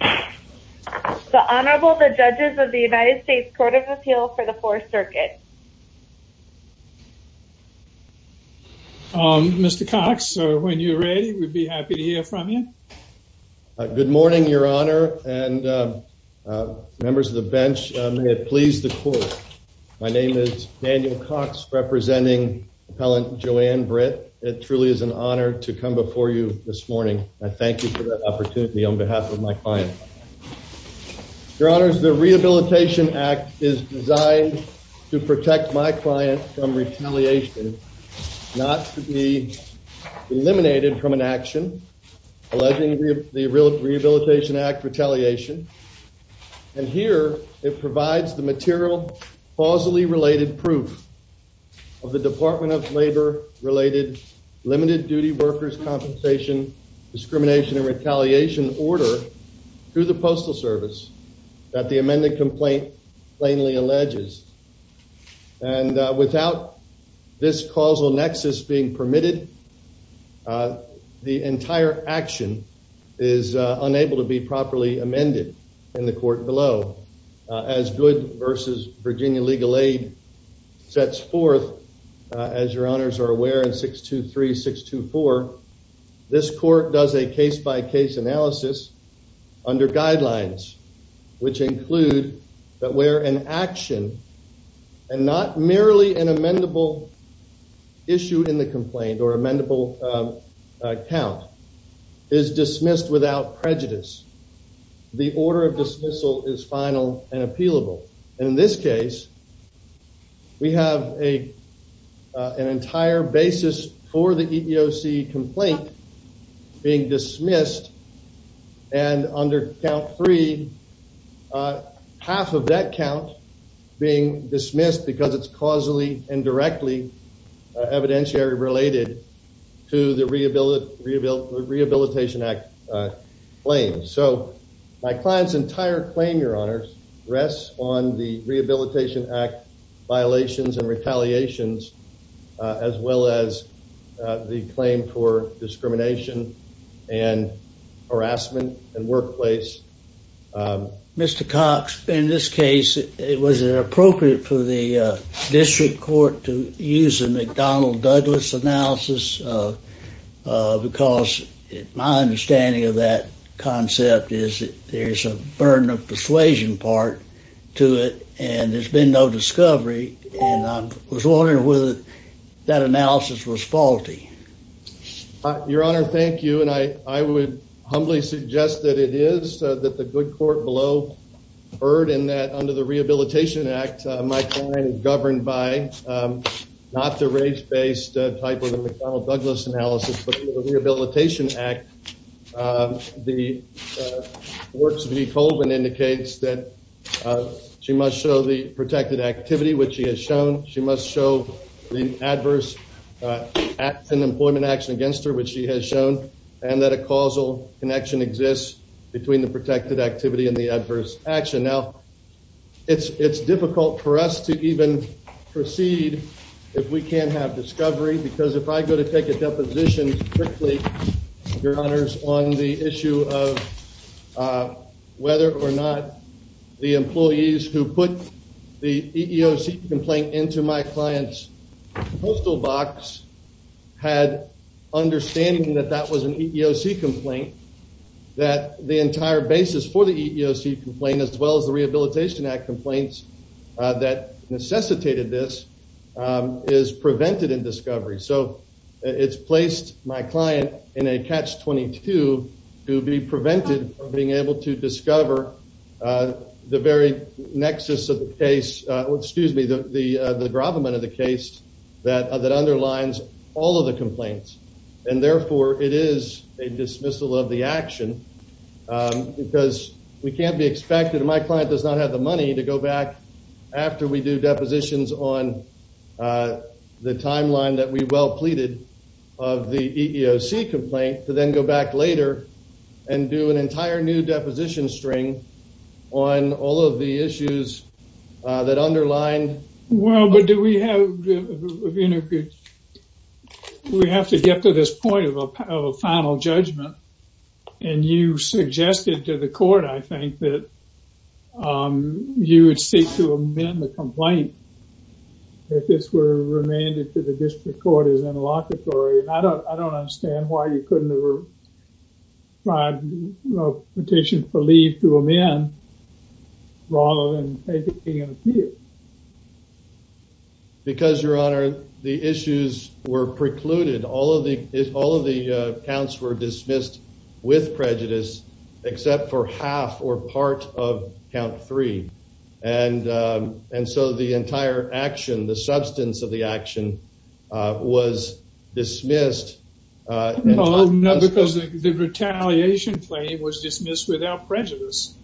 The Honorable, the Judges of the United States Court of Appeal for the Fourth Circuit. Mr. Cox, when you're ready, we'd be happy to hear from you. Good morning, Your Honor, and members of the bench, may it please the Court. My name is Daniel Cox, representing Appellant JoAnn Britt. It truly is an honor to come before you this morning. I thank you for that opportunity on behalf of my client. Your Honors, the Rehabilitation Act is designed to protect my client from retaliation, not to be eliminated from an action alleging the Rehabilitation Act retaliation. And here, it provides the material, causally related proof of the Department of Labor-related limited duty workers' compensation, discrimination, and retaliation order through the Postal Service that the amended complaint plainly alleges. And without this causal nexus being permitted, the entire action is unable to be properly amended in the Court below. As Good v. Virginia Legal Aid sets forth, as Your Honors are aware, in 623-624, this Court does a case-by-case analysis under guidelines, which include that where an action, and not merely an amendable issue in the complaint or amendable count, is dismissed without prejudice, the order of dismissal is final and appealable. And in this case, we have an entire basis for the EEOC complaint being dismissed, and under count three, half of that count being dismissed because it's causally and directly evidentiary related to the Rehabilitation Act claims. So, my client's entire claim, Your Honors, rests on the Rehabilitation Act violations and retaliations, as well as the claim for discrimination and harassment in workplace. Mr. Cox, in this case, was it appropriate for the District Court to use the McDonnell-Douglas analysis? Because my understanding of that concept is that there's a burden of persuasion part to it, and there's been no discovery, and I was wondering whether that analysis was faulty. Your Honor, thank you, and I would humbly suggest that it is, that the good court below heard in that under the Rehabilitation Act, my client is governed by, not the race-based type of the McDonnell-Douglas analysis, but the Rehabilitation Act. The Works v. Colvin indicates that she must show the protected activity, which she has shown. She must show the adverse acts and employment action against her, which she has shown, and that a causal connection exists between the protected activity and the adverse action. Now, it's difficult for us to even proceed if we can't have discovery, because if I go to take a deposition, strictly, Your Honors, on the issue of whether or not the employees who put the EEOC complaint into my client's postal box had understanding that that was an EEOC complaint, that the entire basis for the EEOC complaint, as well as the Rehabilitation Act complaints that necessitated this, is prevented in discovery. So, it's placed my client in a catch-22 to be prevented from being able to discover the very nexus of the case, excuse me, the gravamen of the case that underlines all of the complaints. And therefore, it is a dismissal of the action, because we can't be expected, and my client does not have the money to go back after we do depositions on the timeline that we well pleaded of the EEOC complaint, to then go back later and do an entire new deposition string on all of the issues that underline... Well, but do we have, you know, we have to get to this point of a final judgment, and you suggested to the court, I think, that you would seek to amend the complaint if this were remanded to the district court as interlocutory. I don't understand why you couldn't have tried a petition for leave to amend, rather than taking an appeal. Because, Your Honor, the issues were precluded. All of the counts were dismissed with prejudice, except for half or part of count three. And so, the entire action, the substance of the action, was dismissed... No, because the retaliation claim was dismissed without prejudice.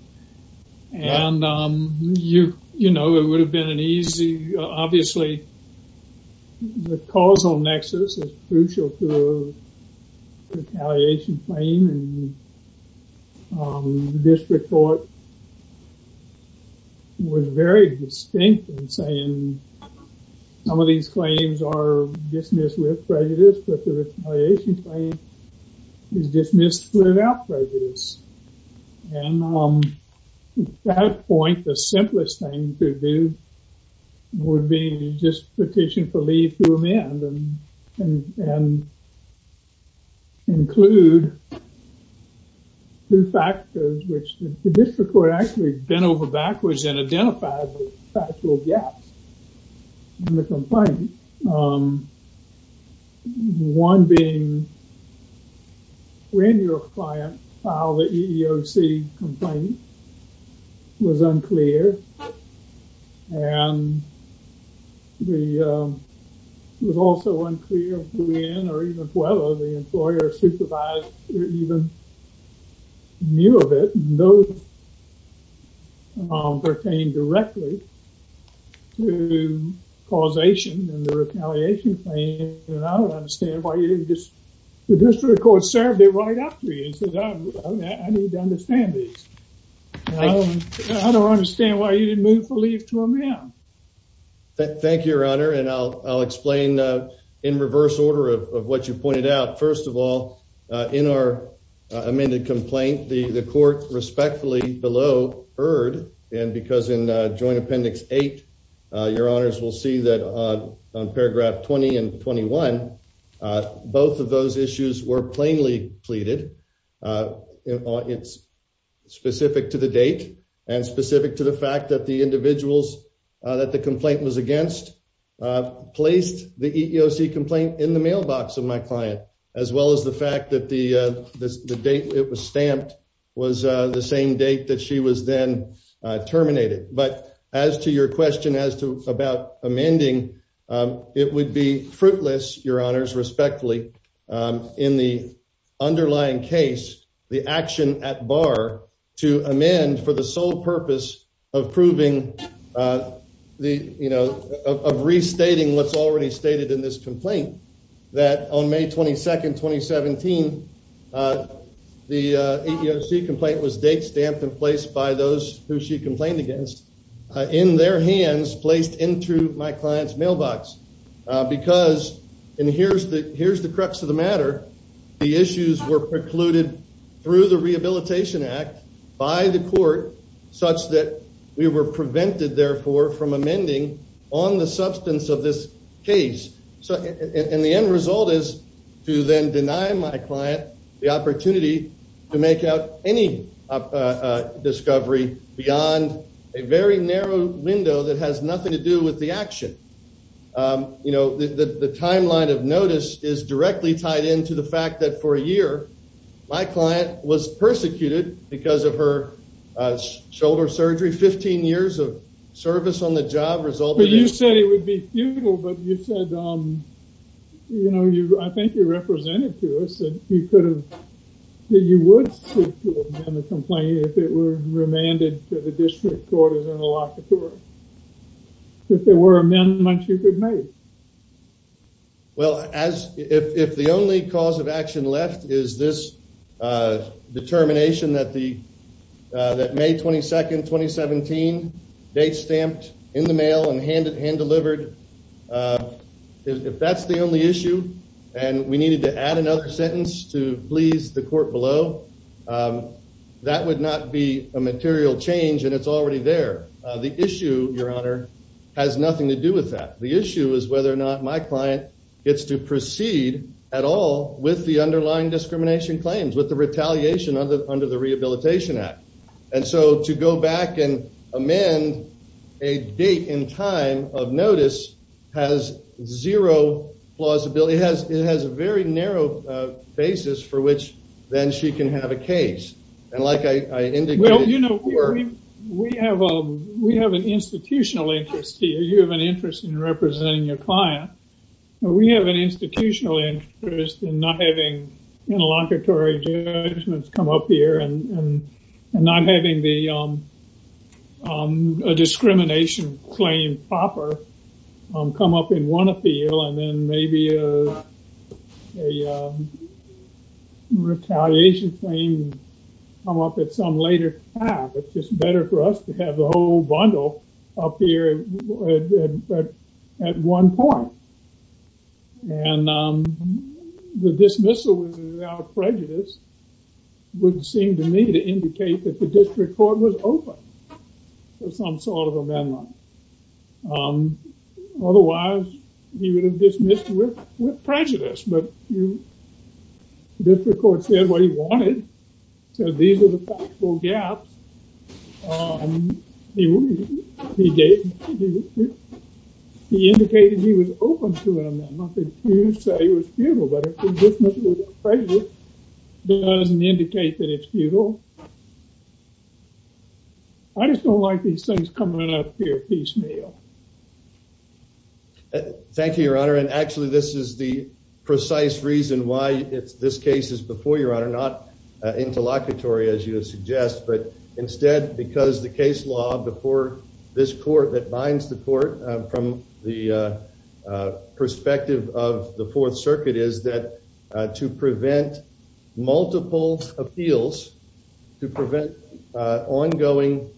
And, you know, it would have been an easy... Obviously, the causal nexus is crucial to a retaliation claim, and the district court was very distinct in saying some of these claims are dismissed with prejudice, but the retaliation claim is dismissed without prejudice. And at that point, the simplest thing to do would be just petition for leave to amend and include two factors, which the district court bent over backwards and identified as factual gaps in the complaint. One being when your client filed the EEOC complaint was unclear, and it was also unclear when or even the employer supervised or even knew of it. Those pertain directly to causation and the retaliation claim, and I don't understand why you didn't just... The district court served it right after you and said, I need to understand this. I don't understand why you didn't move for leave to amend. Thank you, Your Honor, and I'll explain in reverse order of what you first of all, in our amended complaint, the court respectfully below heard, and because in Joint Appendix 8, Your Honors will see that on Paragraph 20 and 21, both of those issues were plainly pleaded. It's specific to the date and specific to the fact that the individuals that complaint was against placed the EEOC complaint in the mailbox of my client, as well as the fact that the date it was stamped was the same date that she was then terminated. But as to your question about amending, it would be fruitless, Your Honors, respectfully, in the underlying case, the action at bar to amend for the sole purpose of proving the, you know, of restating what's already stated in this complaint, that on May 22, 2017, the EEOC complaint was date stamped and placed by those who she complained against in their hands, placed into my client's mailbox, because, and here's the crux of the matter, the issues were precluded through the Rehabilitation Act by the court, such that we were prevented, therefore, from amending on the substance of this case. And the end result is to then deny my client the opportunity to make out any discovery beyond a very narrow window that has nothing to do with the action. You know, the timeline of notice is directly tied into the fact that for a year, my client was persecuted because of her shoulder surgery. 15 years of service on the job resulted in- But you said it would be futile, but you said, you know, I think you represented to us that you could have, that you would seek to amend the complaint if it were remanded to the district court as an allocator, if there were amendments you could make. Well, as, if the only cause of action left is this determination that the, that May 22, 2017, date stamped in the mail and hand delivered, if that's the only issue and we needed to add another sentence to please the court below, that would not be a material change and it's already there. The issue, Your Honor, has nothing to do with that. The issue is whether or not my client gets to proceed at all with the underlying discrimination claims, with the retaliation under the Rehabilitation Act. And so, to go back and of notice has zero plausibility. It has a very narrow basis for which then she can have a case. And like I indicated- Well, you know, we have an institutional interest here. You have an interest in representing your client. We have an institutional interest in not having interlocutory judgments come up here and not having the discrimination claim proper come up in one appeal and then maybe a retaliation claim come up at some later time. It's just better for us to have the whole bundle up here at one point. And the dismissal without prejudice wouldn't seem to me to indicate that the district court was open to some sort of amendment. Otherwise, you would have dismissed with prejudice, but the district court said what he wanted, so these are the factual gaps he gave. He indicated he was open to an amendment. He didn't say it was futile, but a dismissal without prejudice doesn't indicate that it's futile. I just don't like these things coming up here piecemeal. Thank you, Your Honor. And actually, this is the precise reason why this case is before, not interlocutory, as you suggest, but instead because the case law before this court that binds the court from the perspective of the Fourth Circuit is that to prevent multiple appeals, to prevent ongoing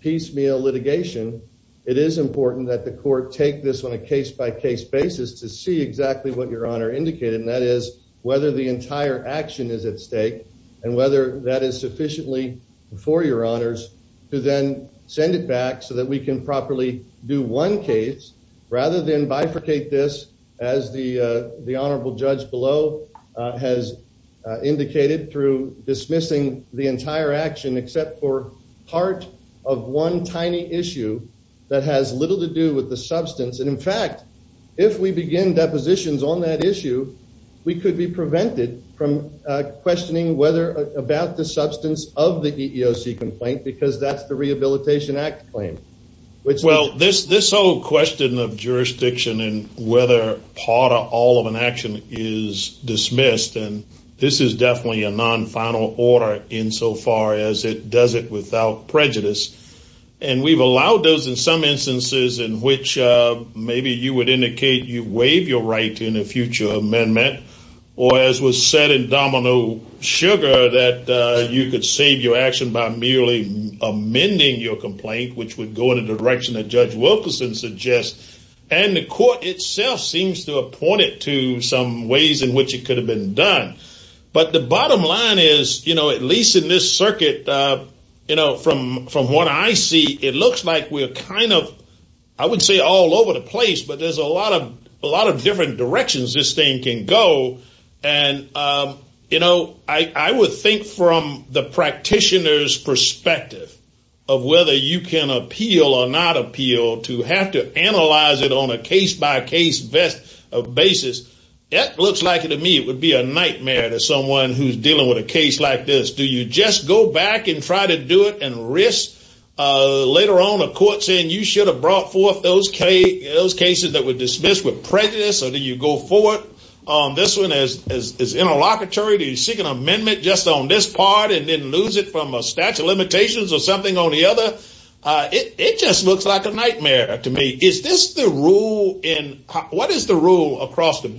piecemeal litigation, it is important that the court take this on a case-by-case basis to see exactly what Your Honor indicated, and that is whether the entire action is at stake and whether that is sufficiently before Your Honors to then send it back so that we can properly do one case rather than bifurcate this as the honorable judge below has indicated through dismissing the entire action except for part of one tiny issue that has little to do with the substance. And, in fact, if we begin depositions on that issue, we could be prevented from questioning about the substance of the EEOC complaint because that's the Rehabilitation Act claim. Well, this whole question of jurisdiction and whether part or all of an action is dismissed, and this is definitely a non-final order insofar as it does it without prejudice, and we've allowed those in some instances in which maybe you would indicate you waive your right in a future amendment or, as was said in Domino Sugar, that you could save your action by merely amending your complaint, which would go in the direction that Judge Wilkerson suggests, and the court itself seems to appoint it to some ways in which it could have been done. But the bottom line is, at least in this circuit, from what I see, it looks like we're kind of, I would say, all over the place, but there's a lot of different directions this thing can go, and I would think from the practitioner's perspective of whether you can appeal or not appeal to have to analyze it on a case-by-case basis, it looks like, to me, would be a nightmare to someone who's dealing with a case like this. Do you just go back and try to do it and risk, later on, a court saying you should have brought forth those cases that were dismissed with prejudice, or do you go forward on this one as interlocutory? Do you seek an amendment just on this part and then lose it from a statute of limitations or something on the other? It just looks like a nightmare to me. Is this the rule in, what is the rule across the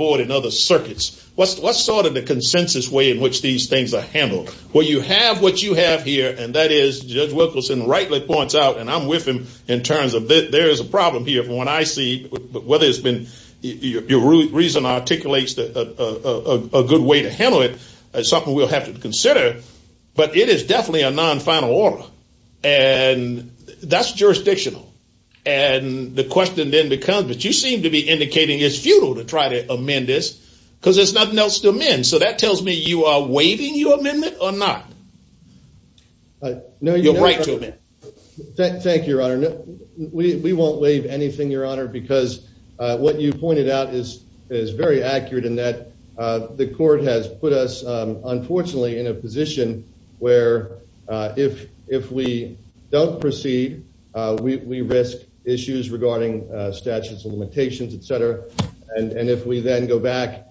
sort of the consensus way in which these things are handled? Well, you have what you have here, and that is, Judge Wilkerson rightly points out, and I'm with him in terms of that there is a problem here from what I see, but whether it's been, your reason articulates a good way to handle it is something we'll have to consider, but it is definitely a non-final order, and that's jurisdictional. And the question then becomes, but you seem to be indicating it's futile to try to amend, so that tells me you are waiving your amendment or not. Your right to amend. Thank you, Your Honor. We won't waive anything, Your Honor, because what you pointed out is very accurate in that the court has put us, unfortunately, in a position where if we don't proceed, we risk issues regarding statutes and limitations, et cetera, and if we then go back,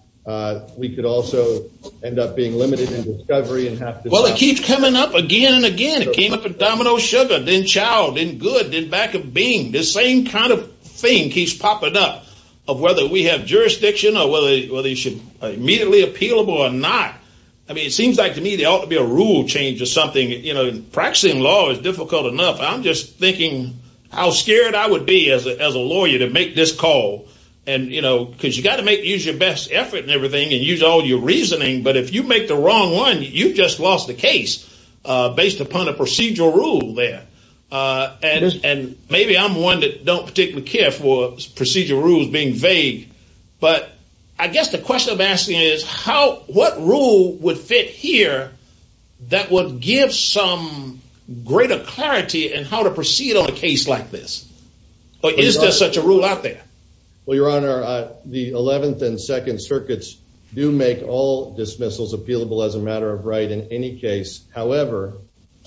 we could also end up being limited in discovery and have to- Well, it keeps coming up again and again. It came up with domino sugar, then child, then good, then back of being. The same kind of thing keeps popping up of whether we have jurisdiction or whether they should immediately appealable or not. I mean, it seems like to me there ought to be a rule change or something. Practicing law is difficult enough. I'm just thinking how scared I would be as a lawyer to make this call, because you've got to use your best effort and everything and use all your reasoning, but if you make the wrong one, you've just lost the case based upon a procedural rule there. And maybe I'm one that don't particularly care for procedural rules being vague, but I guess the question I'm asking is what rule would fit here that would give some greater clarity in how to proceed on a case like this? Or is there such a rule out there? Well, your honor, the 11th and 2nd circuits do make all dismissals appealable as a matter of right in any case. However,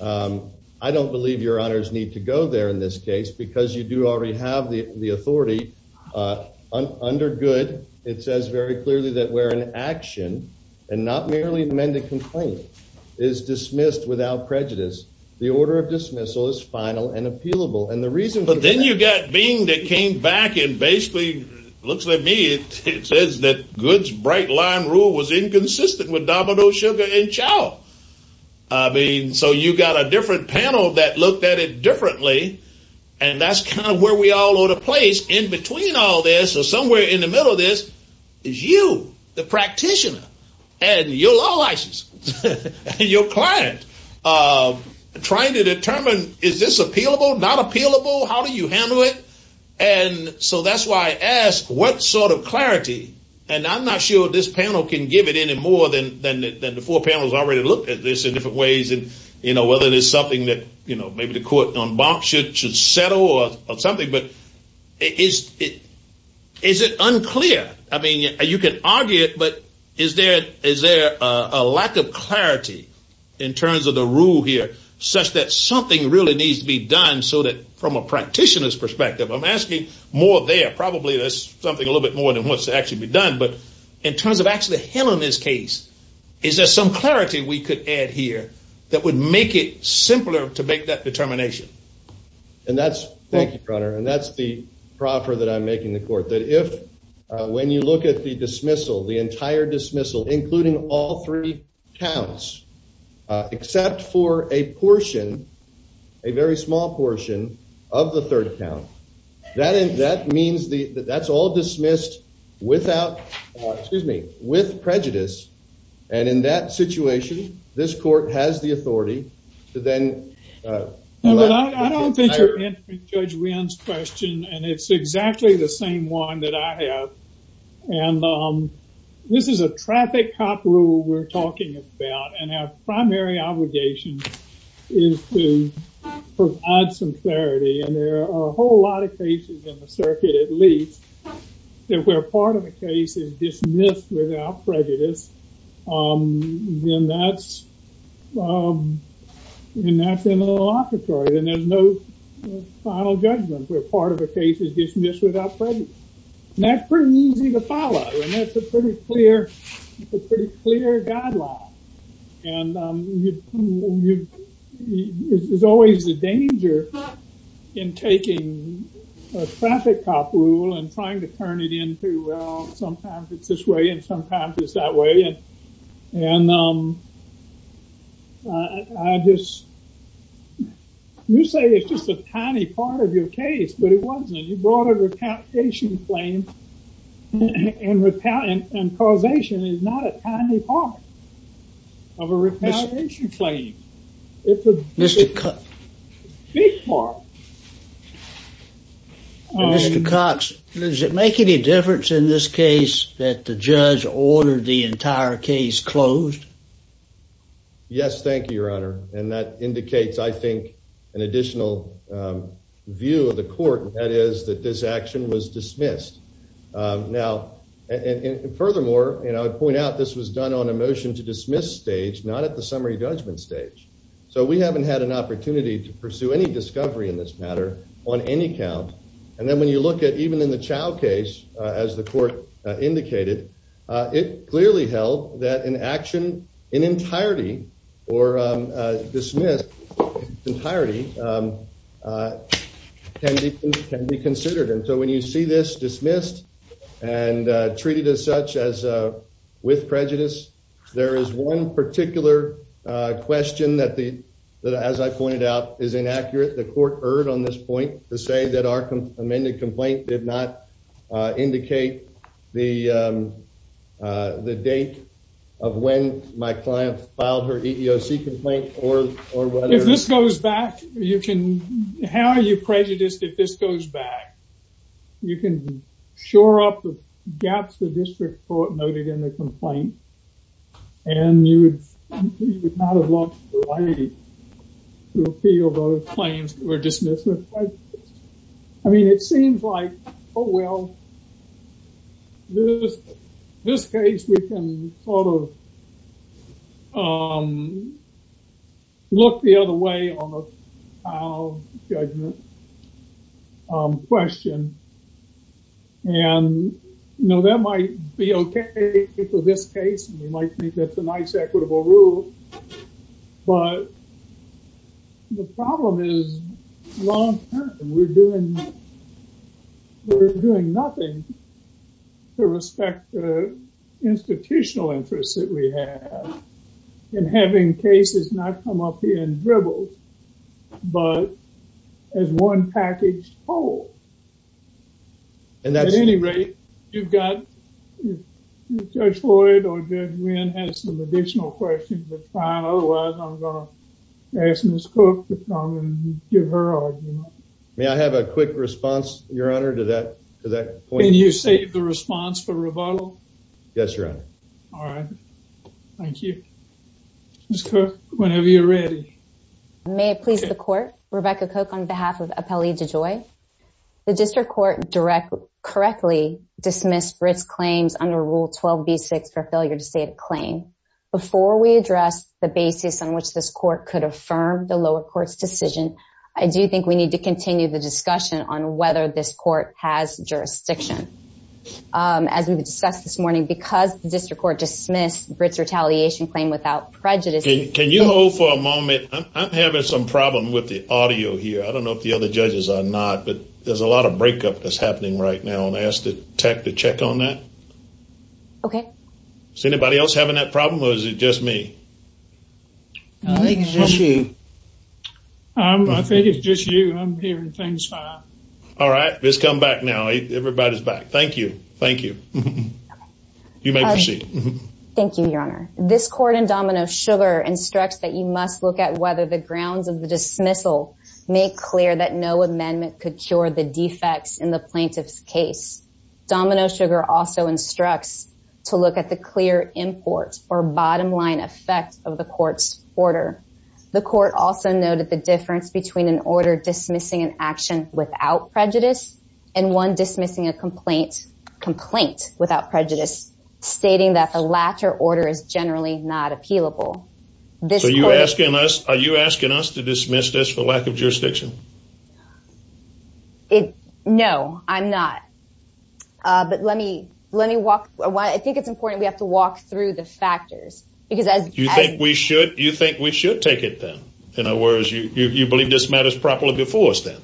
I don't believe your honors need to go there in this case, because you do already have the authority under good. It says very clearly that where an action and not merely amend a complaint is dismissed without prejudice, the order of dismissal is final and appealable. But then you've got Bing that came back and basically looks at me and says that Good's bright line rule was inconsistent with Domino Sugar and Chow. I mean, so you've got a different panel that looked at it differently, and that's kind of where we all owe the place in between all this. So somewhere in the middle of this is you, the practitioner, and your law license and your client trying to determine is this appealable, not appealable, how do you handle it? And so that's why I ask what sort of clarity, and I'm not sure this panel can give it any more than the four panels already looked at this in different ways, and whether there's something that maybe the court should settle or something, but is it unclear? I mean, you can argue it, but is there a lack of clarity in terms of the rule here such that something really needs to be done so that from a practitioner's perspective, I'm asking more there, probably there's something a little bit more than what's to actually be done, but in terms of actually him in this case, is there some clarity we could add here that would make it simpler to make that determination? And that's, thank you, Your Honor, and that's the proffer that I'm making the court, that if when you look at the dismissal, the entire dismissal, including all three counts, except for a portion, a very small portion of the third count, that means that that's all dismissed without, excuse me, with prejudice, and in that situation, this court has the authority to then. I don't think you're answering Judge Wynn's question, and it's exactly the same one that I have, and this is a traffic cop rule we're talking about, and our primary obligation is to provide some clarity, and there are a whole lot of cases in the circuit, at least, that where part of the case is dismissed without prejudice, then that's in the locatory, and there's no final judgment where part of the case is dismissed without prejudice, and that's pretty easy to follow, and that's a pretty clear guideline. And there's always a danger in taking a traffic cop rule and trying to turn it into, well, sometimes it's this way, and sometimes it's that way, and I just, you say it's just a tiny part of your case, but it wasn't. You brought a retaliation claim, and causation is not a tiny part of a retaliation claim. It's a big part. Mr. Cox, does it make any difference in this case that the judge ordered the entire case closed? Yes, thank you, your honor, and that indicates, I think, an additional view of the court, and that is that this action was dismissed. Now, and furthermore, you know, I point out this was done on a motion to dismiss stage, not at the summary judgment stage, so we haven't had an opportunity to pursue any discovery in this matter on any count, and then when you look at even in the Chow case, as the court indicated, it clearly held that an action in entirety or dismissed entirety can be considered, and so when you see this dismissed and treated as such as with prejudice, there is one particular question that, as I pointed out, is inaccurate. The court erred on this point to say that our amended complaint did not indicate the date of when my client filed her EEOC complaint or whether... You can... How are you prejudiced if this goes back? You can shore up the gaps the district court noted in the complaint, and you would not have lost the right to appeal those claims that were dismissed. I mean, it seems like, oh well, in this case, we can sort of look the other way on the trial judgment question, and, you know, that might be okay for this case, and you might think that's a nice equitable rule, but the problem is long-term. We're doing... We're doing nothing to respect the institutional interests that we have in having cases not come up here in dribbles, but as one packaged whole. At any rate, you've got... Judge Floyd or Judge Wynn has some additional questions, otherwise I'm going to ask Ms. Koch to come and give her argument. May I have a quick response, your honor, to that point? Can you save the response for rebuttal? Yes, your honor. All right. Thank you. Ms. Koch, whenever you're ready. May it please the court. Rebecca Koch on behalf of Appellee DeJoy. The district court directly, correctly dismissed Britt's claims under Rule 12b6 for failure to state a claim. Before we address the basis on which this court could affirm the lower court's decision, I do think we need to continue the discussion on whether this court has jurisdiction. As we've discussed this morning, because the district court dismissed Britt's retaliation claim without prejudice... Can you hold for a moment? I'm having some problem with the audio here. I don't know if the other judges are not, but there's a lot of breakup that's happening right now. I'll ask the tech to check on that. Okay. Is anybody else having that problem or is it just me? I think it's just you. I think it's just you. I'm hearing things. All right. Ms. Come back now. Everybody's back. Thank you. Thank you. You may proceed. Thank you, your honor. This court in Domino Sugar instructs that you must look at whether the grounds of the dismissal make clear that no amendment could cure the defects in the plaintiff's case. Domino Sugar also instructs to look at the clear import or bottom line effect of the court's order. The court also noted the difference between an order dismissing an action without prejudice and one dismissing a complaint without prejudice, stating that the latter order is generally not to dismiss this for lack of jurisdiction. No, I'm not. But let me, let me walk. I think it's important we have to walk through the factors because as you think we should, you think we should take it then, in other words, you believe this matters properly before us then?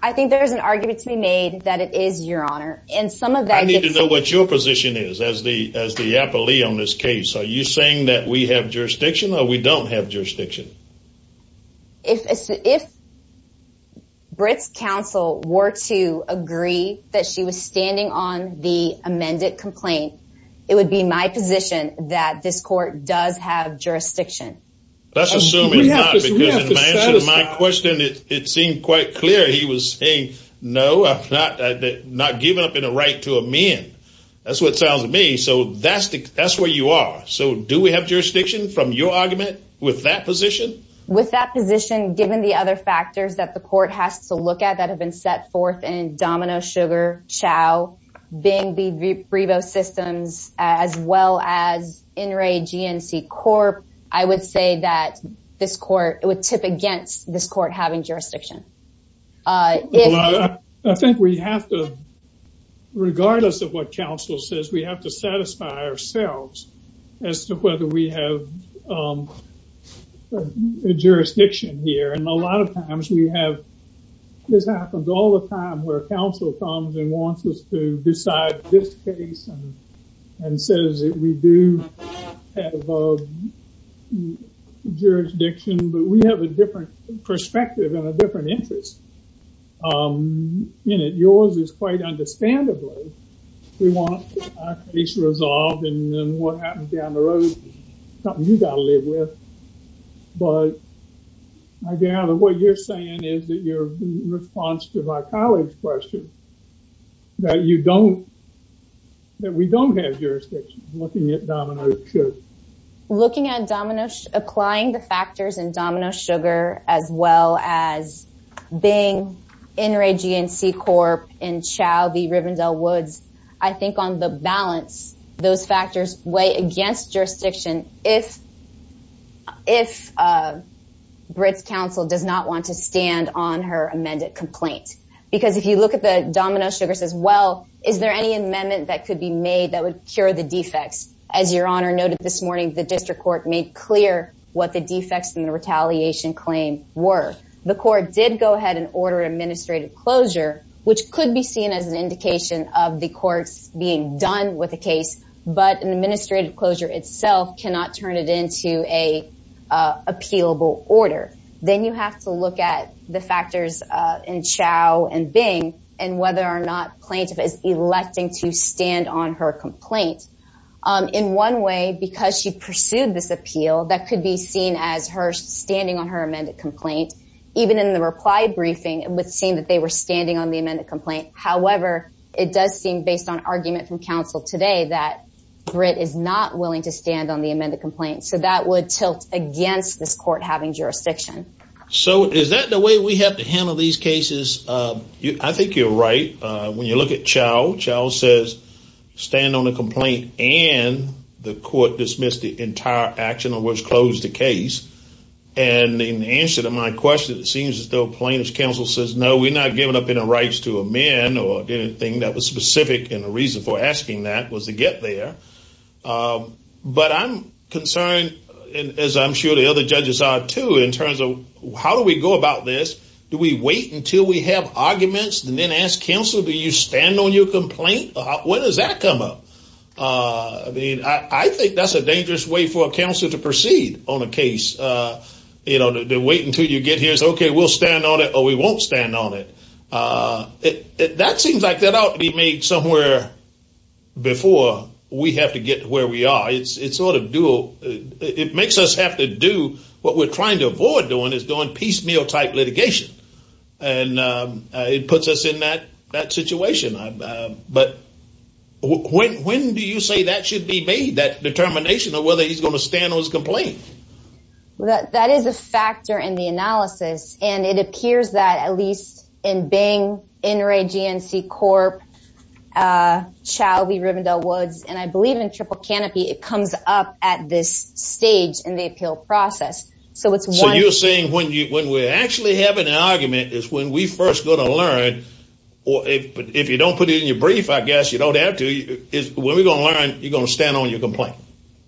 I think there's an argument to be made that it is your honor. And some of that I need to know what your position is as the, as the appellee on this case, are you saying that we have jurisdiction or we don't have jurisdiction? If, if Britt's counsel were to agree that she was standing on the amended complaint, it would be my position that this court does have jurisdiction. That's assuming not because in my answer to my question, it seemed quite clear. He was saying, no, I'm not, not giving up in a right to amend. That's what it sounds to me. So that's the, that's where you are. So do we have jurisdiction from your argument with that position? With that position, given the other factors that the court has to look at, that have been set forth in Domino, Sugar, Chow, Bingbee, Brevo Systems, as well as NRA, GNC, Corp, I would say that this court, it would tip against this court having jurisdiction. I think we have to, regardless of what counsel says, we have to satisfy ourselves as to whether we have jurisdiction here. And a lot of times we have, this happens all the time where counsel comes and wants us to decide this case and says that we do have jurisdiction, but we have a perspective and a different interest in it. Yours is quite understandably, we want a case resolved and then what happens down the road, something you got to live with. But I gather what you're saying is that your response to my colleague's question, that you don't, that we don't have jurisdiction looking at Domino, Sugar. Looking at Domino, applying the factors in Domino, Sugar, as well as Bingbee, NRA, GNC, Corp, and Chow, the Rivendell Woods, I think on the balance, those factors weigh against jurisdiction if Brit's counsel does not want to stand on her amended complaint. Because if you look at the Domino, Sugar says, well, is there any amendment that could be made that would cure the defects? As your Honor noted this morning, the district court made clear what the defects in the retaliation claim were. The court did go ahead and order an administrative closure, which could be seen as an indication of the courts being done with the case, but an administrative closure itself cannot turn it into an appealable order. Then you have to look at the factors in Chow and Bing, and whether or not plaintiff is electing to stand on her complaint. In one way, because she pursued this appeal, that could be seen as her standing on her amended complaint. Even in the reply briefing, it would seem that they were standing on the amended complaint. However, it does seem based on argument from counsel today that Brit is not willing to stand on the amended complaint. So that would tilt against this court having jurisdiction. So is that the way we have to handle these cases? I think you're right. When you look at Chow, Chow says, stand on the complaint, and the court dismissed the entire action which closed the case. And in answer to my question, it seems as though plaintiff's counsel says, no, we're not giving up any rights to amend or anything that was specific. And the reason for asking that was to get there. But I'm concerned, as I'm sure the other judges are too, in terms of how do we go about this? Do we wait until we have arguments and then ask counsel, do you stand on your complaint? When does that come up? I mean, I think that's a dangerous way for a counsel to proceed on a case. You know, to wait until you get here, so okay, we'll stand on it or we won't stand on it. That seems like that ought to be made somewhere before we have to get where we are. It makes us have to do what we're trying to avoid doing is doing piecemeal type litigation. And it puts us in that situation. But when do you say that should be made, that determination of whether he's going to stand on his complaint? That is a factor in the analysis. And it appears that at least in Bing, NRA, GNC, Corp., Chauvie, Rivendell, Woods, and I believe in Triple Canopy, it comes up at this stage in the appeal process. So it's one- So you're saying when we're actually having an argument is when we first go to learn, or if you don't put it in your brief, I guess you don't have to, is when we're going to learn, you're going to stand on your complaint.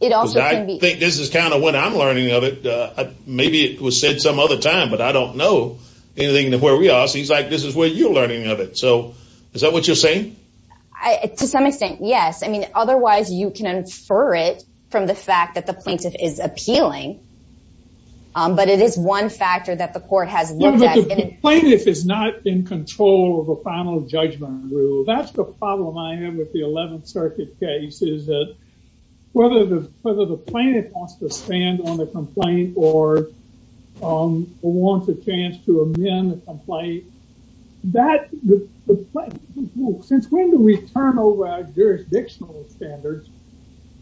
It also can be- Because I think this is kind of what I'm learning of it. Maybe it was said some other time, but I don't know anything of where we are. So he's like, this is where you're learning of it. So is that what you're saying? To some extent, yes. I mean, otherwise you can infer it from the fact that the plaintiff is appealing. But it is one factor that the court has looked at- But the plaintiff is not in control of the final judgment rule. That's the problem I have with the complaint or wants a chance to amend the complaint. Since when do we turn over our jurisdictional standards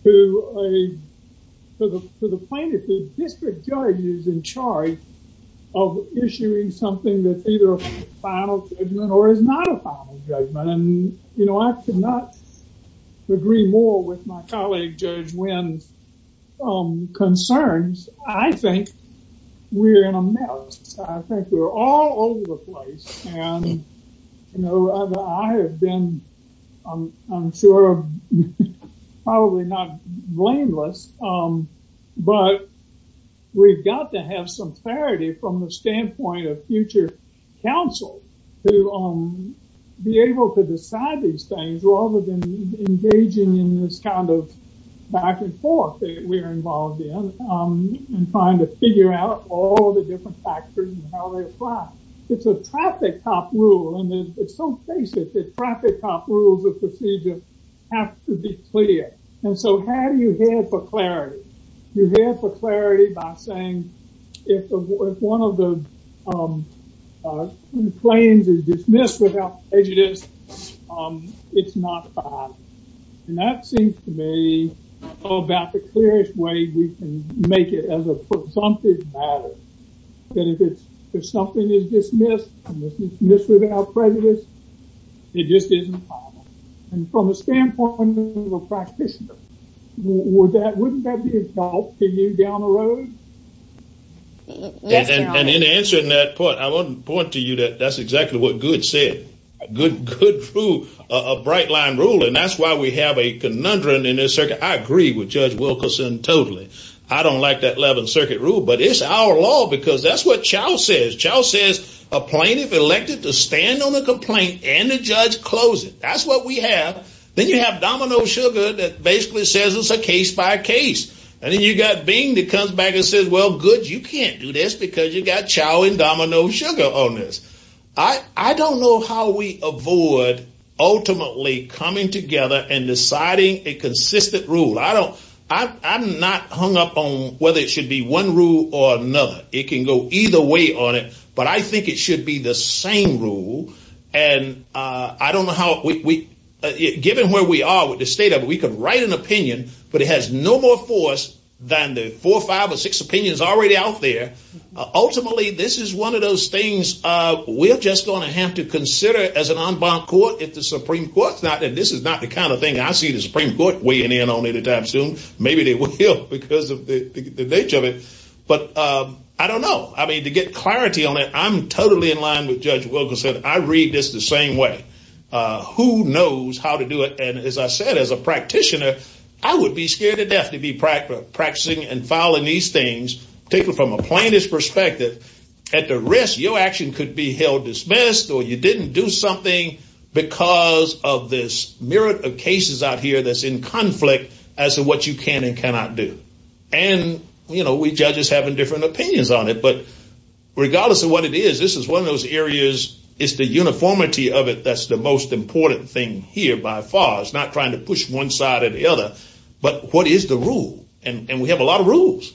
to the plaintiff? The district judge is in charge of issuing something that's either a final judgment or is not a final judgment. And I could not agree more with my I think we're in a mess. I think we're all over the place. And I have been, I'm sure, probably not blameless, but we've got to have some clarity from the standpoint of future counsel to be able to decide these things rather than engaging in this kind of back and forth that we are involved in and trying to figure out all the different factors and how they apply. It's a traffic cop rule. And it's so basic that traffic cop rules of procedure have to be clear. And so how do you head for clarity? You head for clarity by saying, if one of the claims is dismissed without prejudice, it's not bad. And that seems to me all about the clearest way we can make it as a presumptive matter that if it's, if something is dismissed, it's dismissed without prejudice, it just isn't. And from a standpoint of a practitioner, wouldn't that be a thought to you down the road? And in answering that point, I want to point to you that that's exactly what Good said. Good proved a bright line rule. And that's why we have a conundrum in this circuit. I agree with Judge Wilkerson totally. I don't like that 11th Circuit rule, but it's our law because that's what Chau says. Chau says a plaintiff elected to stand on a complaint and the judge close it. That's what we have. Then you have Domino Sugar that basically says it's a case by case. And then you got Bing that comes back and says, well, good, you can't do this because you got Chau and Domino Sugar on this. I don't know how we avoid ultimately coming together and deciding a consistent rule. I don't, I'm not hung up on whether it should be one rule or another. It can go either way on it, but I think it should be the same rule. And I don't know how we, given where we are with the state of it, we could write an opinion, but it has no more force than the four or five or six opinions already out there. Ultimately, this is one of those things we're just going to have to consider as an en banc court if the Supreme Court's not, and this is not the kind of thing I see the Supreme Court weighing in on anytime soon. Maybe they will because of the nature of it. But I don't know. I mean, to get clarity on it, I'm totally in line with Judge Wilkerson. I read this the same way. Who knows how to do it? And as I said, as a practitioner, I would be scared to death to be practicing and following these things, particularly from a plaintiff's perspective. At the risk, your action could be held dismissed, or you didn't do something because of this myriad of cases out here that's in conflict as to what you can and cannot do. And, you know, we judges have different opinions on it, but regardless of what it is, this is one of those areas, it's the uniformity of it that's the most important thing here by far. It's not trying to push one side or the other, but what is the rule? And we have a lot of rules.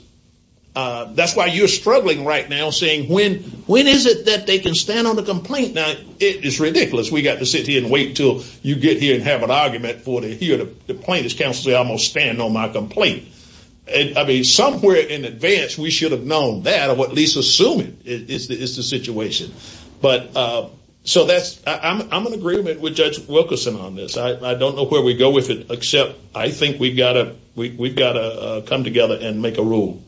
That's why you're struggling right now saying, when is it that they can stand on the complaint? Now, it is ridiculous. We got to sit here and wait until you get here and have an argument for the plaintiff's counsel to say, I'm going to stand on my complaint. I mean, somewhere in advance, we should have known that or at least assume it is the situation. I'm in agreement with Judge Wilkerson on this. I don't know where we go with it, except I think we've got to come together and make a rule.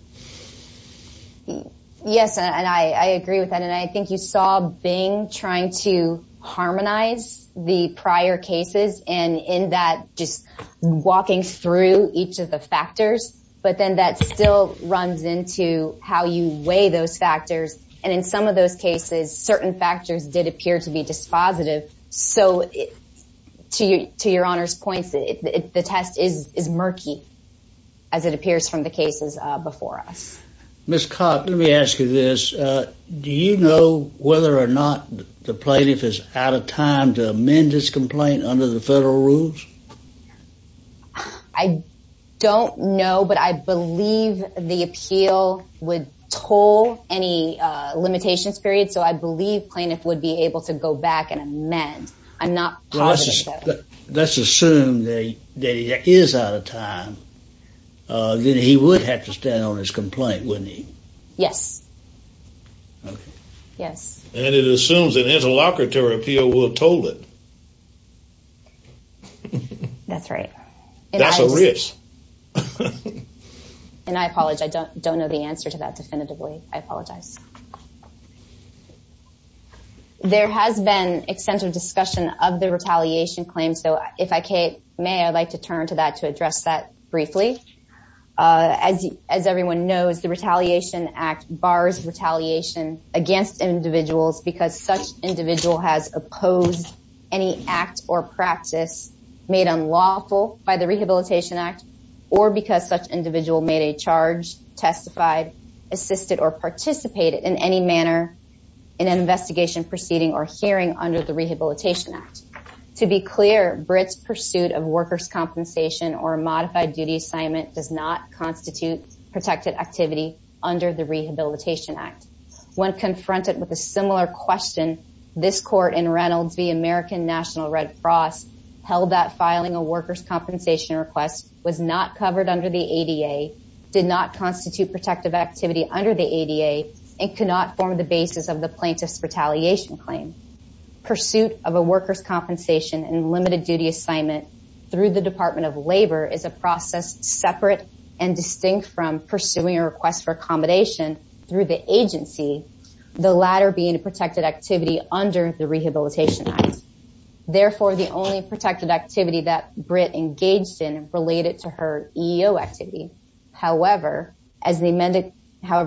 Yes, and I agree with that. And I think you saw Bing trying to harmonize the prior cases and in that just walking through each of the factors, but then that still runs into how you weigh those factors. And in some of those cases, certain factors did appear to be dispositive. So to your Honor's points, the test is murky, as it appears from the cases before us. Ms. Cox, let me ask you this. Do you know whether or not the plaintiff is out of time to amend this complaint under the limitations period? So I believe the plaintiff would be able to go back and amend. Let's assume that he is out of time, then he would have to stand on his complaint, wouldn't he? Yes. Yes. And it assumes an interlocutory appeal will toll it. That's right. That's a risk. And I apologize. I don't know the answer to that definitively. I apologize. There has been extensive discussion of the retaliation claim. So if I may, I'd like to turn to that to address that briefly. As everyone knows, the Retaliation Act bars retaliation against individuals because such individual has opposed any act or practice made unlawful by the Rehabilitation Act or because such individual made a charge, testified, assisted, or participated in any manner in an investigation, proceeding, or hearing under the Rehabilitation Act. To be clear, BRIT's pursuit of workers' compensation or a modified duty assignment does not constitute protected activity under the Rehabilitation Act. When confronted with a similar question, this Court in Reynolds v. American National Red Cross held that filing a workers' compensation request was not covered under the ADA, did not constitute protective activity under the ADA, and could not form the basis of the plaintiff's retaliation claim. Pursuit of a workers' compensation and limited duty assignment through the Department of Labor is a process separate and distinct from pursuing a request for accommodation through the agency, the latter being a protected activity under the Rehabilitation Act. Therefore, the only protected activity that BRIT engaged in related to her EEO activity. However, the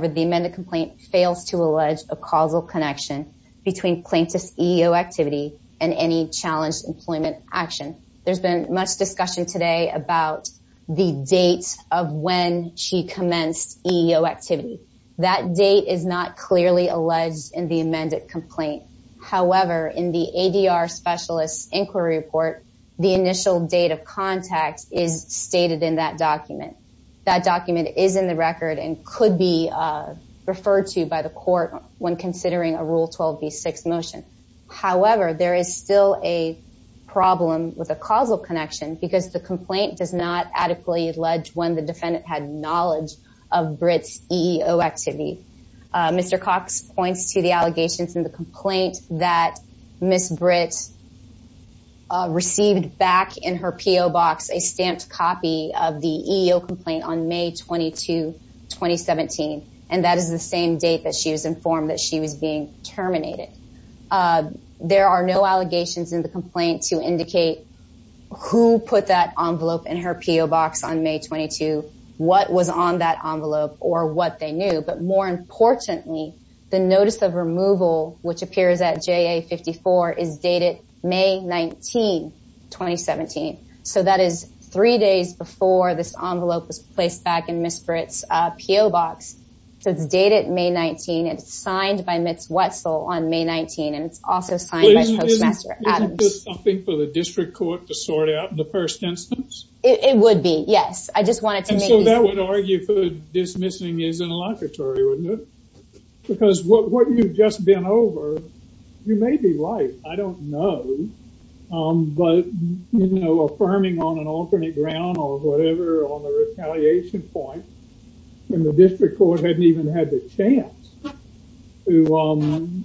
amended complaint fails to allege a causal connection between plaintiff's EEO activity and any challenged employment action. There's been much discussion today about the date of when she commenced EEO activity. That date is not clearly alleged in the amended complaint. However, in the ADR Specialist's Inquiry Report, the initial date of contact is stated in that document. That document is in the record and could be referred to by the Court when considering a Rule 12b6 motion. However, there is still a problem with a causal connection because the complaint does not adequately allege when the defendant had knowledge of BRIT's EEO activity. Mr. Cox points to the allegations in the complaint that Ms. BRIT received back in her P.O. box a stamped copy of the EEO complaint on May 22, 2017, and that is the same date that she was informed that she was being terminated. There are no allegations in the complaint to indicate who put that envelope in her P.O. box on May 22, what was on that envelope, or what they reported. Importantly, the notice of removal, which appears at JA-54, is dated May 19, 2017. So that is three days before this envelope was placed back in Ms. BRIT's P.O. box. So it's dated May 19, and it's signed by Ms. Wetzel on May 19, and it's also signed by Postmaster Adams. Isn't this something for the District Court to sort out in the first instance? It would be, yes. I just wanted to make sure. So that would argue for dismissing in a locatory, wouldn't it? Because what you've just been over, you may be right. I don't know. But, you know, affirming on an alternate ground or whatever on the retaliation point, and the District Court hadn't even had the chance to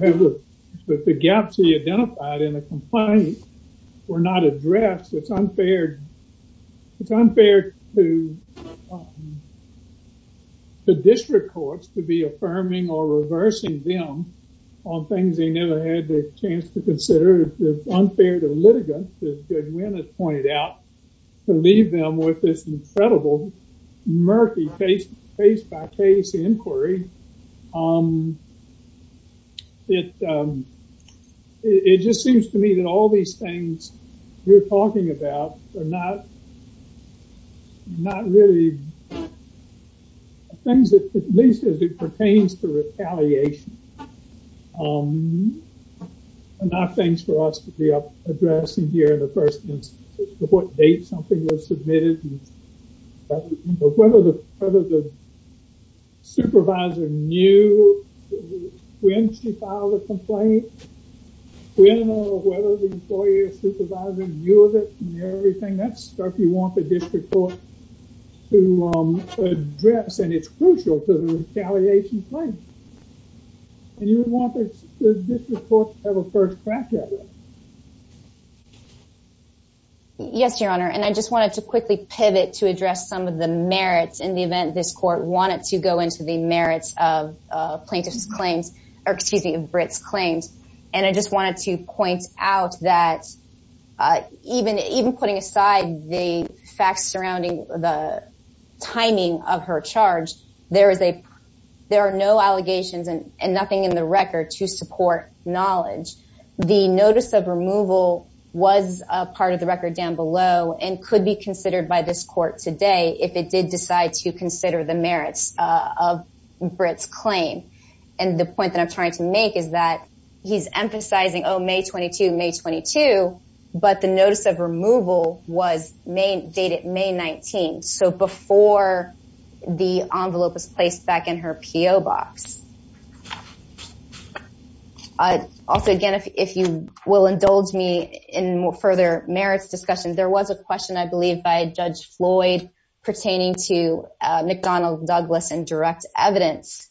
have the gaps he identified in the complaint were not addressed. It's unfair. It's unfair to the District Courts to be affirming or reversing them on things they never had the chance to consider. It's unfair to litigants, as Judge Wynn has pointed out, to leave them with this incredible murky case-by-case inquiry. It just seems to me that all these things you're talking about are not really things that, at least as it pertains to retaliation, are not things for us to be addressing here in the first instance of what date something was submitted, whether the supervisor knew when she filed a complaint, whether the employer supervisor knew of it and everything. That's stuff you want the District Court to address, and it's crucial to the retaliation claim. And you would want the District Court to have a first draft of it. Yes, Your Honor, and I just wanted to quickly pivot to address some of the merits in the event this Court wanted to go into the merits of plaintiff's claims, or excuse me, of Britt's claims. And I just wanted to point out that even putting aside the facts surrounding the timing of her charge, there are no allegations and nothing in the record to support knowledge. The notice of removal was a part of the record down below and could be considered by this Court today if it did decide to consider the merits of Britt's claim. And the point that I'm trying to make is that he's emphasizing, oh, May 22, May 22, but the notice of removal was dated May 19, so before the envelope was placed back in her P.O. box. Also, again, if you will indulge me in further merits discussion, there was a question, I believe, by Judge Floyd pertaining to McDonnell Douglas in direct evidence.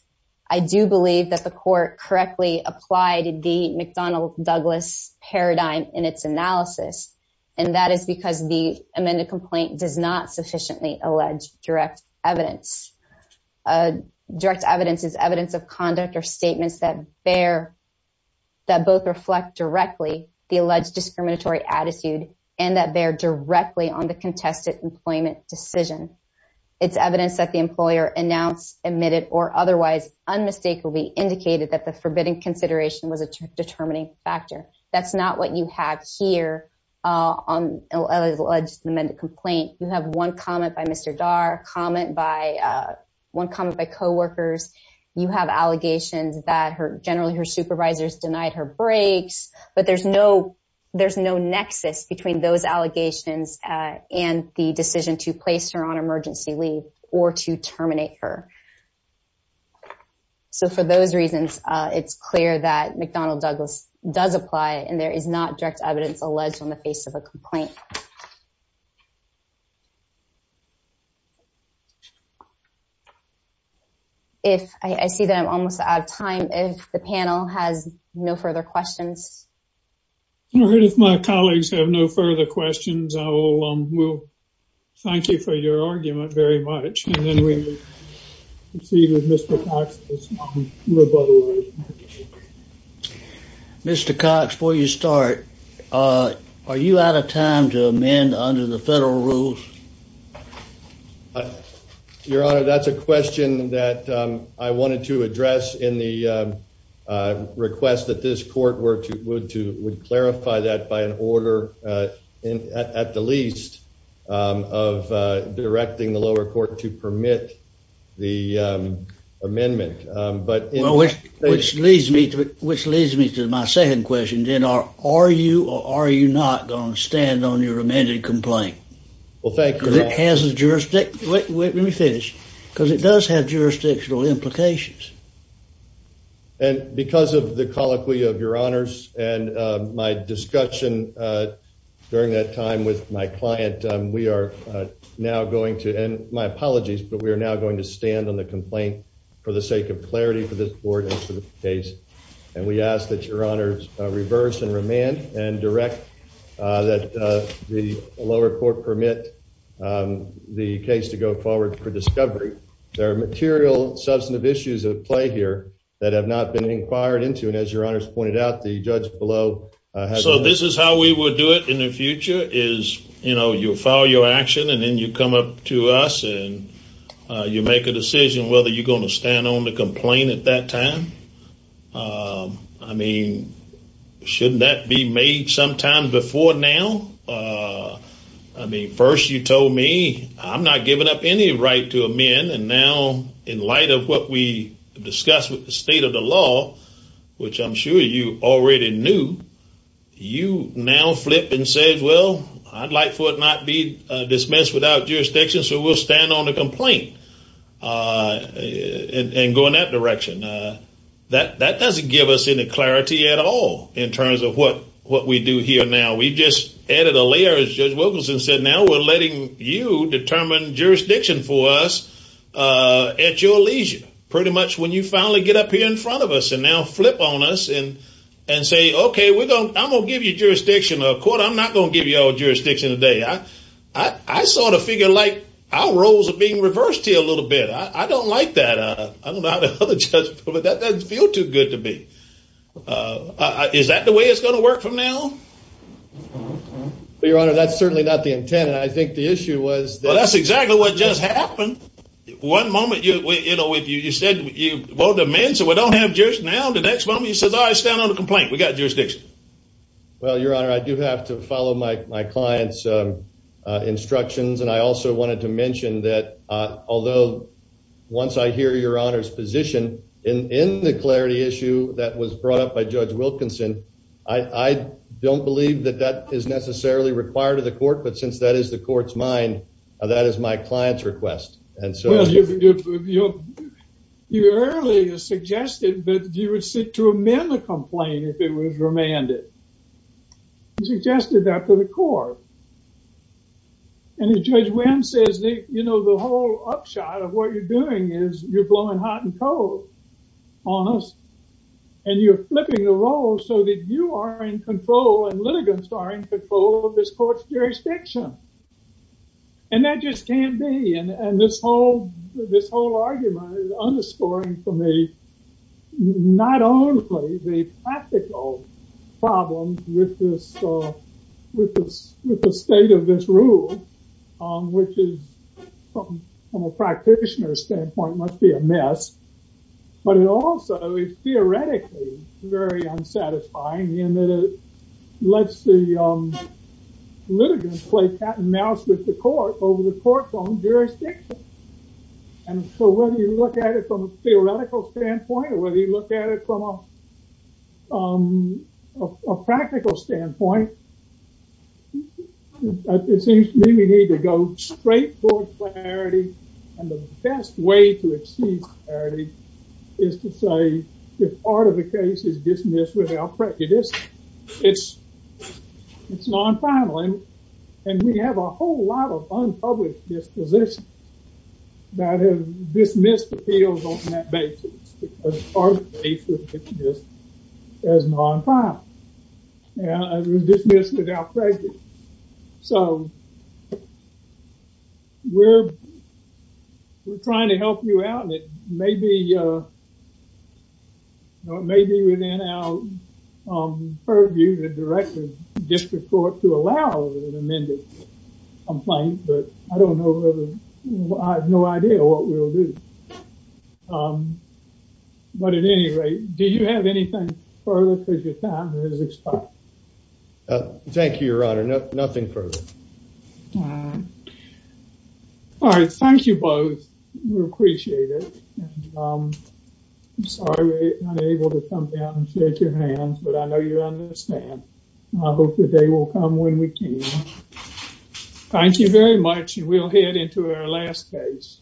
I do believe that the Court correctly applied the McDonnell Douglas paradigm in its analysis, and that is because the amended complaint does not sufficiently allege direct evidence. Direct evidence is evidence of conduct or statements that both reflect directly the alleged discriminatory attitude and that bear directly on the contested employment decision. It's evidence that the employer announced, admitted, or otherwise unmistakably indicated that the forbidden consideration was a determining factor. That's not what you have here on the alleged amended complaint. You have one comment by Mr. Darr, one comment by co-workers. You have allegations that generally her supervisors denied her breaks, but there's no nexus between those allegations and the decision to place her on emergency leave or to terminate her. So for those reasons, it's clear that McDonnell Douglas does apply, and there is not direct evidence alleged on the face of a complaint. If I see that I'm almost out of time, if the panel has no further questions. All right, if my colleagues have no further questions, I will thank you for your argument very much, and then we proceed with Mr. Cox's rebuttal. Mr. Cox, before you start, are you out of time to amend under the federal rules? Your Honor, that's a question that I wanted to address in the request that this court would clarify that by an order, at the least, of directing the lower court to permit the amendment. Which leads me to my second question, are you or are you not going to stand on your amended complaint? Well, thank you, Your Honor. Because it does have jurisdictional implications. And because of the colloquy of Your Honors and my discussion during that time with my client, we are now going to, and my apologies, but we are now going to stand on the complaint for the sake of clarity for this board and for the case. And we ask that Your Honors reverse and remand and direct that the lower court permit the case to go forward for discovery. There are material substantive issues at play here that have not been inquired into, and as Your Honors pointed out, the judge below. So this is how we will do it in the future, is, you know, you file your action and then you come up to us and you make a decision whether you're going to stand on the complaint at that time. I mean, shouldn't that be made sometime before now? I mean, first you told me I'm not giving up any right to amend, and now in light of what we discussed with the state of the law, which I'm sure you already knew, you now flip and say, well, I'd like for it not to be dismissed without jurisdiction, so we'll stand on the complaint and go in that direction. That doesn't give us any clarity at all in terms of what we do now. We just added a layer, as Judge Wilkinson said, now we're letting you determine jurisdiction for us at your leisure, pretty much when you finally get up here in front of us and now flip on us and say, okay, I'm going to give you jurisdiction. Of course, I'm not going to give you all jurisdiction today. I sort of figure like our roles are being reversed here a little bit. I don't like that. I don't know how the other judges feel, but that doesn't feel too good to be. Is that the way it's going to work from now? Your Honor, that's certainly not the intent, and I think the issue was that... Well, that's exactly what just happened. One moment you said you voted amends, so we don't have jurisdiction now. The next moment you said, all right, stand on the complaint. We've got jurisdiction. Well, Your Honor, I do have to follow my client's instructions, and I also wanted to mention that although once I hear Your Honor's position in the clarity issue that was brought up by Judge Wilkinson, I don't believe that that is necessarily required of the court, but since that is the court's mind, that is my client's request, and so... Well, you earlier suggested that you would sit to amend the complaint if it was remanded. You suggested that to the court, and Judge Wynn says, you know, the whole upshot of what you're doing is you're blowing hot and cold on us, and you're flipping the role so that you are in control and litigants are in control of this court's jurisdiction, and that just can't be, and this whole argument is underscoring for me not only the practical problems with the state of this rule, which is from a practitioner's standpoint must be a mess, but it also is theoretically very unsatisfying in that it lets the litigants play cat and mouse with the court over the court's own jurisdiction, and so whether you look at it from a theoretical standpoint or whether you look at it from a practical standpoint, it seems to me we need to go straight toward clarity, and the best way to achieve clarity is to say if part of the case is dismissed without prejudice. It's non-final, and we have a whole lot of unpublished dispositions that have dismissed appeals on that basis because our case was dismissed as non-final, and it was dismissed without prejudice, so we're trying to help you out, and it may be within our purview to direct the district court to allow an amended complaint, but I don't know I have no idea what we'll do, but at any rate, do you have anything further for your time? Thank you, your honor, nothing further. All right, thank you both. We appreciate it. I'm sorry we're unable to come down and shake your hands, but I know you understand. I hope the day will come when we can. Thank you very much. You will head into our last case.